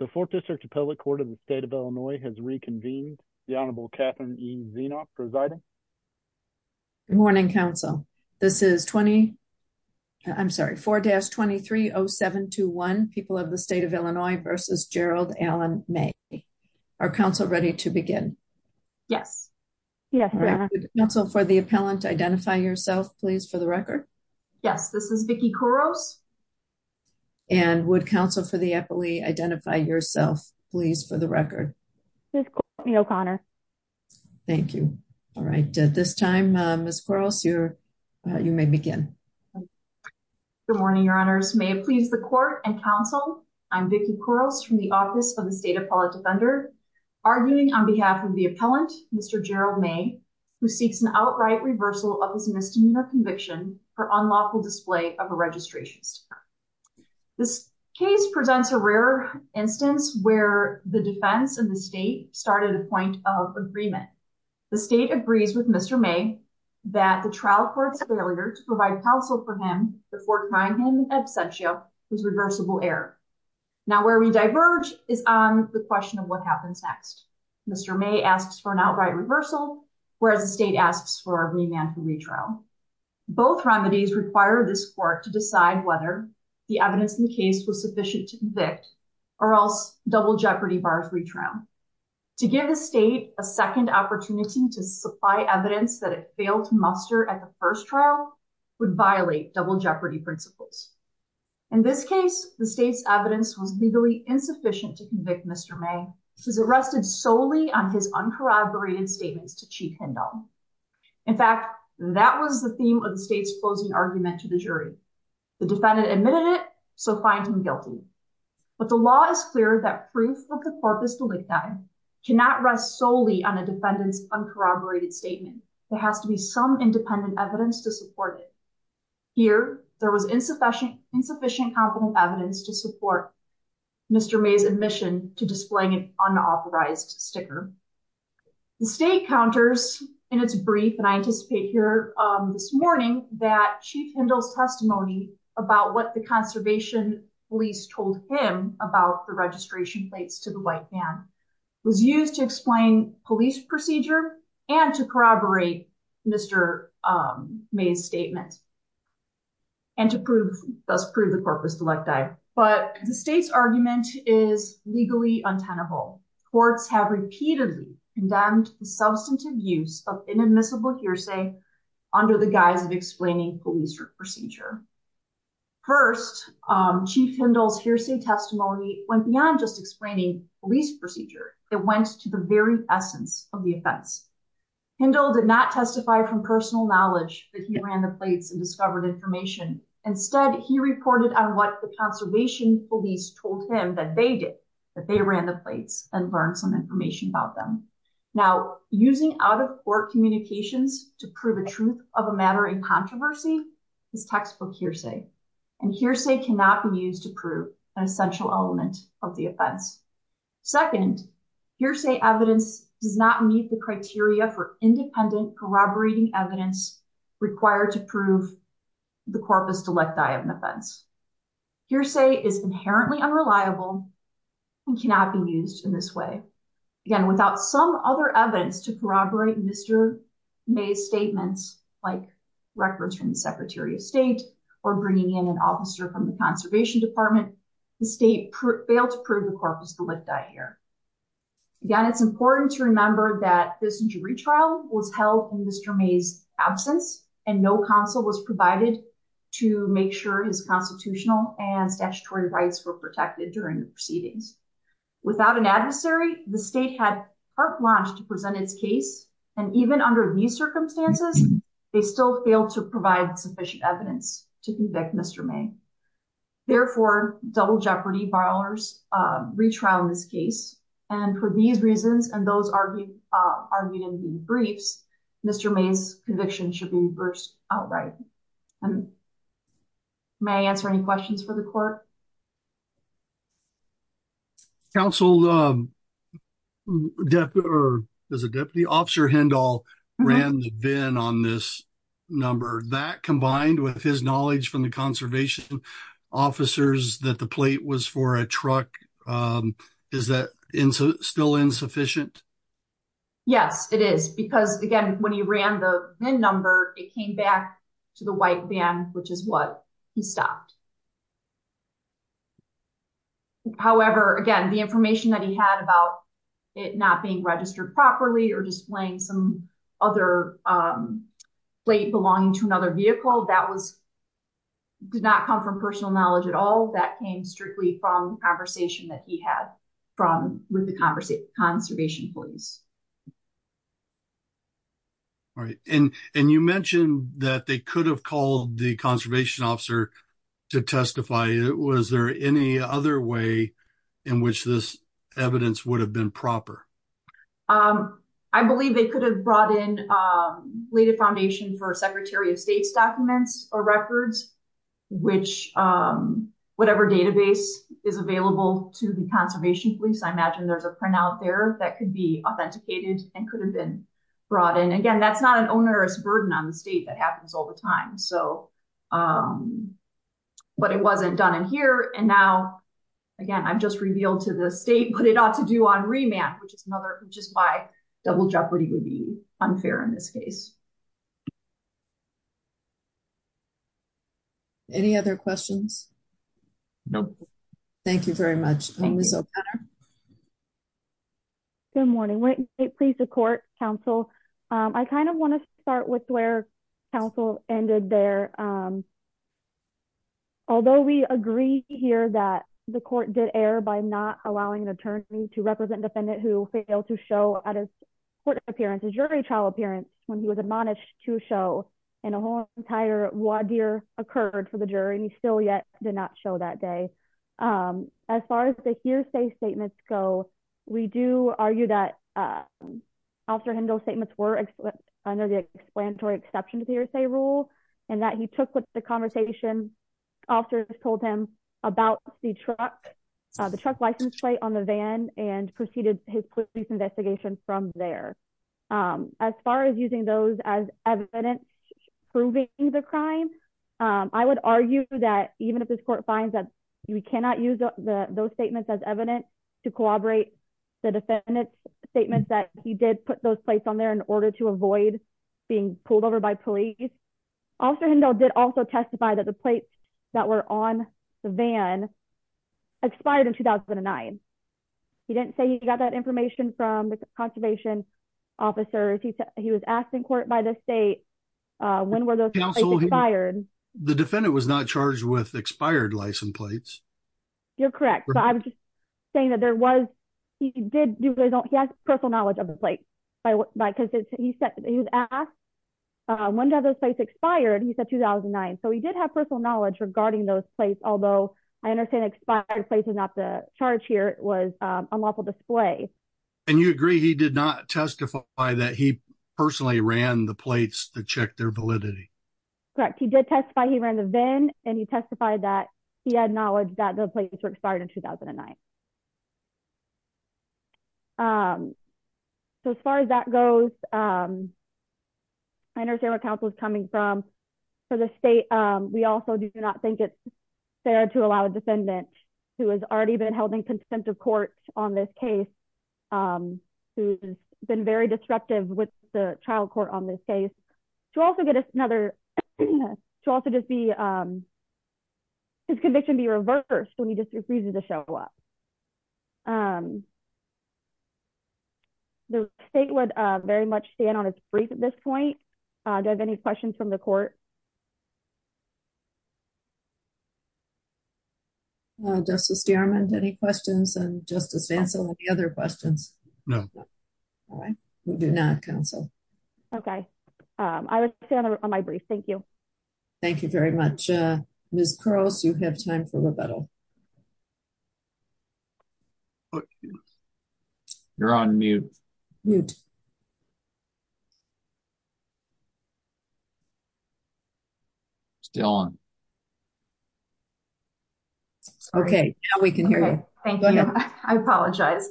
The 4th District Appellate Court of the State of Illinois has reconvened. The Honorable Katherine E. Zienop presiding. Good morning, counsel. This is 4-230721, People of the State of Illinois v. Gerald Allen May. Are counsel ready to begin? Yes. Counsel for the appellant, identify yourself, please, for the record. Yes, this is Vicki Kuros. And would counsel for the appellee identify yourself, please, for the record. This is Courtney O'Connor. Thank you. All right. At this time, Ms. Kuros, you may begin. Good morning, Your Honors. May it please the Court and counsel, I'm Vicki Kuros from the Office of the State Appellate Defender, arguing on behalf of the appellant, Mr. Gerald May, who seeks an outright reversal of his misdemeanor conviction for unlawful display of a registry. This case presents a rare instance where the defense and the state started a point of agreement. The state agrees with Mr. May that the trial court's failure to provide counsel for him before trying him in absentia was reversible error. Now, where we diverge is on the question of what happens next. Mr. May asks for an outright reversal, whereas the state asks for a remand for retrial. Both remedies require this court to decide whether the evidence in the case was sufficient to convict or else double jeopardy bars retrial. To give the state a second opportunity to supply evidence that it failed to muster at the first trial would violate double jeopardy principles. In this case, the state's evidence was legally insufficient to convict Mr. May. He was arrested solely on his uncorroborated statements to Chief Hendel. In fact, that was the theme of the state's closing argument to the jury. The defendant admitted it, so find him guilty. But the law is clear that proof of the corpus delicti cannot rest solely on a defendant's uncorroborated statement. There has to be some independent evidence to support it. Here, there was insufficient evidence to support Mr. May's admission to displaying an unauthorized sticker. The state counters in its brief, and I anticipate here this morning, that Chief Hendel's testimony about what the conservation police told him about the registration plates to the white man, was used to explain police procedure and to corroborate Mr. May's statement. And to prove, thus prove the corpus delicti. But the state's argument is legally untenable. Courts have repeatedly condemned the substantive use of inadmissible hearsay under the guise of explaining police procedure. First, Chief Hendel's hearsay testimony went beyond just explaining police procedure. It went to the very essence of the offense. Hendel did not testify from personal knowledge that he ran the plates and discovered information. Instead, he reported on what the conservation police told him that they did, that they ran the plates and learned some information about them. Now, using out-of-court communications to prove a truth of a matter in controversy is textbook hearsay. And hearsay cannot be used to prove an essential element of the offense. Second, hearsay evidence does not meet the criteria for independent corroborating evidence required to prove the corpus delicti of an offense. Hearsay is inherently unreliable and cannot be used in this way. Again, without some other evidence to corroborate Mr. May's statements, like records from the Secretary of State or bringing in an officer from the Conservation Department, the state failed to prove the corpus delicti here. Again, it's important to remember that this jury trial was held in Mr. May's absence, and no counsel was provided to make sure his constitutional and statutory rights were protected during the proceedings. Without an adversary, the state had heart flange to present its case, and even under these circumstances, they still failed to provide sufficient evidence to convict Mr. May. Therefore, double jeopardy by our retrial in this case, and for these reasons and those argued in the briefs, Mr. May's conviction should be reversed outright. May I answer any questions for the court? Counsel, Deputy Officer Hindall ran the VIN on this number. That combined with his knowledge from the conservation officers that the plate was for a truck, is that still insufficient? Yes, it is. Because again, when he ran the VIN number, it came back to the white van, which is what he stopped. However, again, the information that he had about it not being registered properly, or displaying some other plate belonging to another vehicle, that did not come from personal knowledge at all. That came strictly from the conversation that he had with the conservation police. All right. And you mentioned that they could have called the conservation officer to testify. Was there any other way in which this evidence would have been proper? I believe they could have brought in, laid a foundation for Secretary of State's documents or records, which whatever database is available to the conservation police. I imagine there's a printout there that could be authenticated and could have been brought in. Again, that's not an onerous burden on the state that happens all the time. But it wasn't done in here. And now, again, I've just revealed to the state what it ought to do on remand, which is why double jeopardy would be unfair in this case. Any other questions? No. Thank you very much. Good morning. Wait, please, the court, counsel. I kind of want to start with where counsel ended there. Although we agree here that the court did err by not allowing an attorney to represent a defendant who failed to show at his court appearance, his jury trial appearance, when he was admonished to show, and a whole entire voir dire occurred for the jury, and he still yet did not show that day. As far as the hearsay statements go, we do argue that Officer Hindle's statements were under the explanatory exception hearsay rule, and that he took what the conversation officers told him about the truck license plate on the van and proceeded his police investigation from there. As far as using those as evidence proving the crime, I would argue that even if this court finds that we cannot use those statements as evidence to corroborate the defendant's statements, that he did put those plates on there in order to avoid being pulled over by police. Officer Hindle did also testify that the plates that were on the van expired in 2009. He didn't say he got that information from the conservation officers. He was asked in court by the state when were those plates expired. The defendant was not charged with expired license plates. You're correct, but I'm just saying that he did have personal knowledge of the plates. He was asked when did those plates expire, and he said 2009. So he did have personal knowledge regarding those plates, although I understand expired plates is not the charge here. It was unlawful display. And you agree he did not testify that he personally ran the plates to check their validity? Correct. He did testify he ran the van, and he testified that he had knowledge that the plates were expired in 2009. So as far as that goes, I understand where counsel is coming from. For the state, we also do not think it's fair to allow a defendant who has already been held in contempt of court on this case, who's been very disruptive with the trial court on this case, to also get another, to also just be, his conviction be reversed when he just refuses to show up. The state would very much stand on its feet at this point. Do I have any questions from the court? Justice Stearman, any questions? And Justice Vancel, any other questions? No. We do not, counsel. Okay. I would stay on my brief. Thank you. Thank you very much. Ms. Cross, you have time for rebuttal. You're on mute. Mute. Still on. Okay. Now we can hear you. Thank you. I apologize.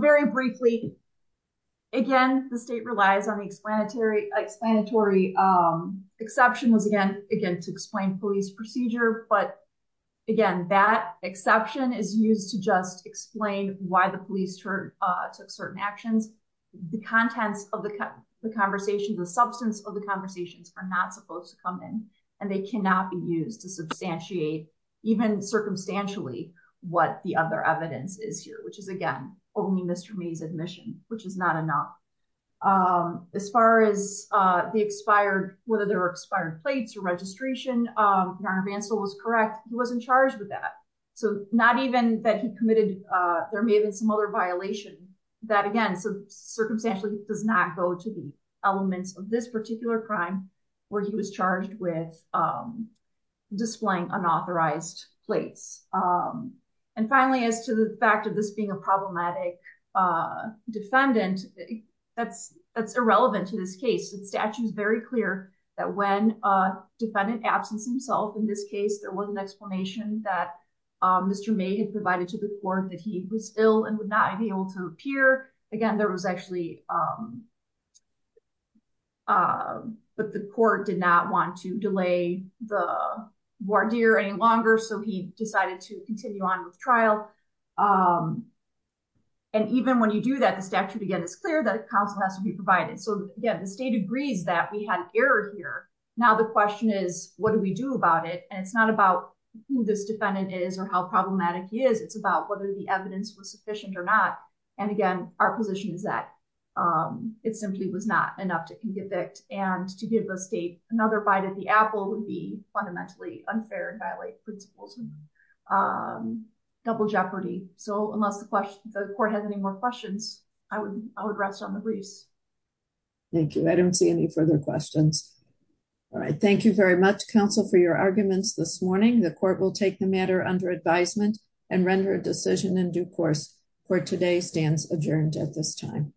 Very briefly. Again, the state relies on the explanatory, explanatory exception was again, again, to explain police procedure. But again, that exception is used to just explain why the police took certain actions. The contents of the conversation, the substance of the conversations are not supposed to come in and they cannot be used to substantiate even circumstantially what the other evidence is here, which is again, only Mr. May's admission, which is not enough. As far as the expired, whether there were expired plates or registration, your counsel was correct. He wasn't charged with that. So not even that he committed, there may have been some other violation. That again, so circumstantially does not go to the elements of this particular crime where he was charged with displaying unauthorized plates. And finally, as to the fact of this being a problematic defendant, that's, that's irrelevant to this case. The statute is very clear that when a defendant absence himself, in this case, there was an explanation that Mr. May had provided to the court that he was still and would not be able to appear again, there was actually, but the court did not want to delay the voir dire any longer. So he decided to continue on with trial. And even when you do that, the statute, again, it's clear that a counsel has to be provided. So again, the state agrees that we had an error here. Now the question is, what do we do about it? And it's not about who this defendant is or how problematic he is. It's about whether the evidence was sufficient or not. And again, our position is that it simply was not enough to convict. And to give the state another bite of the apple would be fundamentally unfair and violate principles, double jeopardy. So unless the question, the court has any more questions, I would, I would rest on the briefs. Thank you. I don't see any further questions. All right. Thank you very much. Counsel for your arguments this morning. The court will take the matter under advisement and render a decision in due course for today stands adjourned at this time.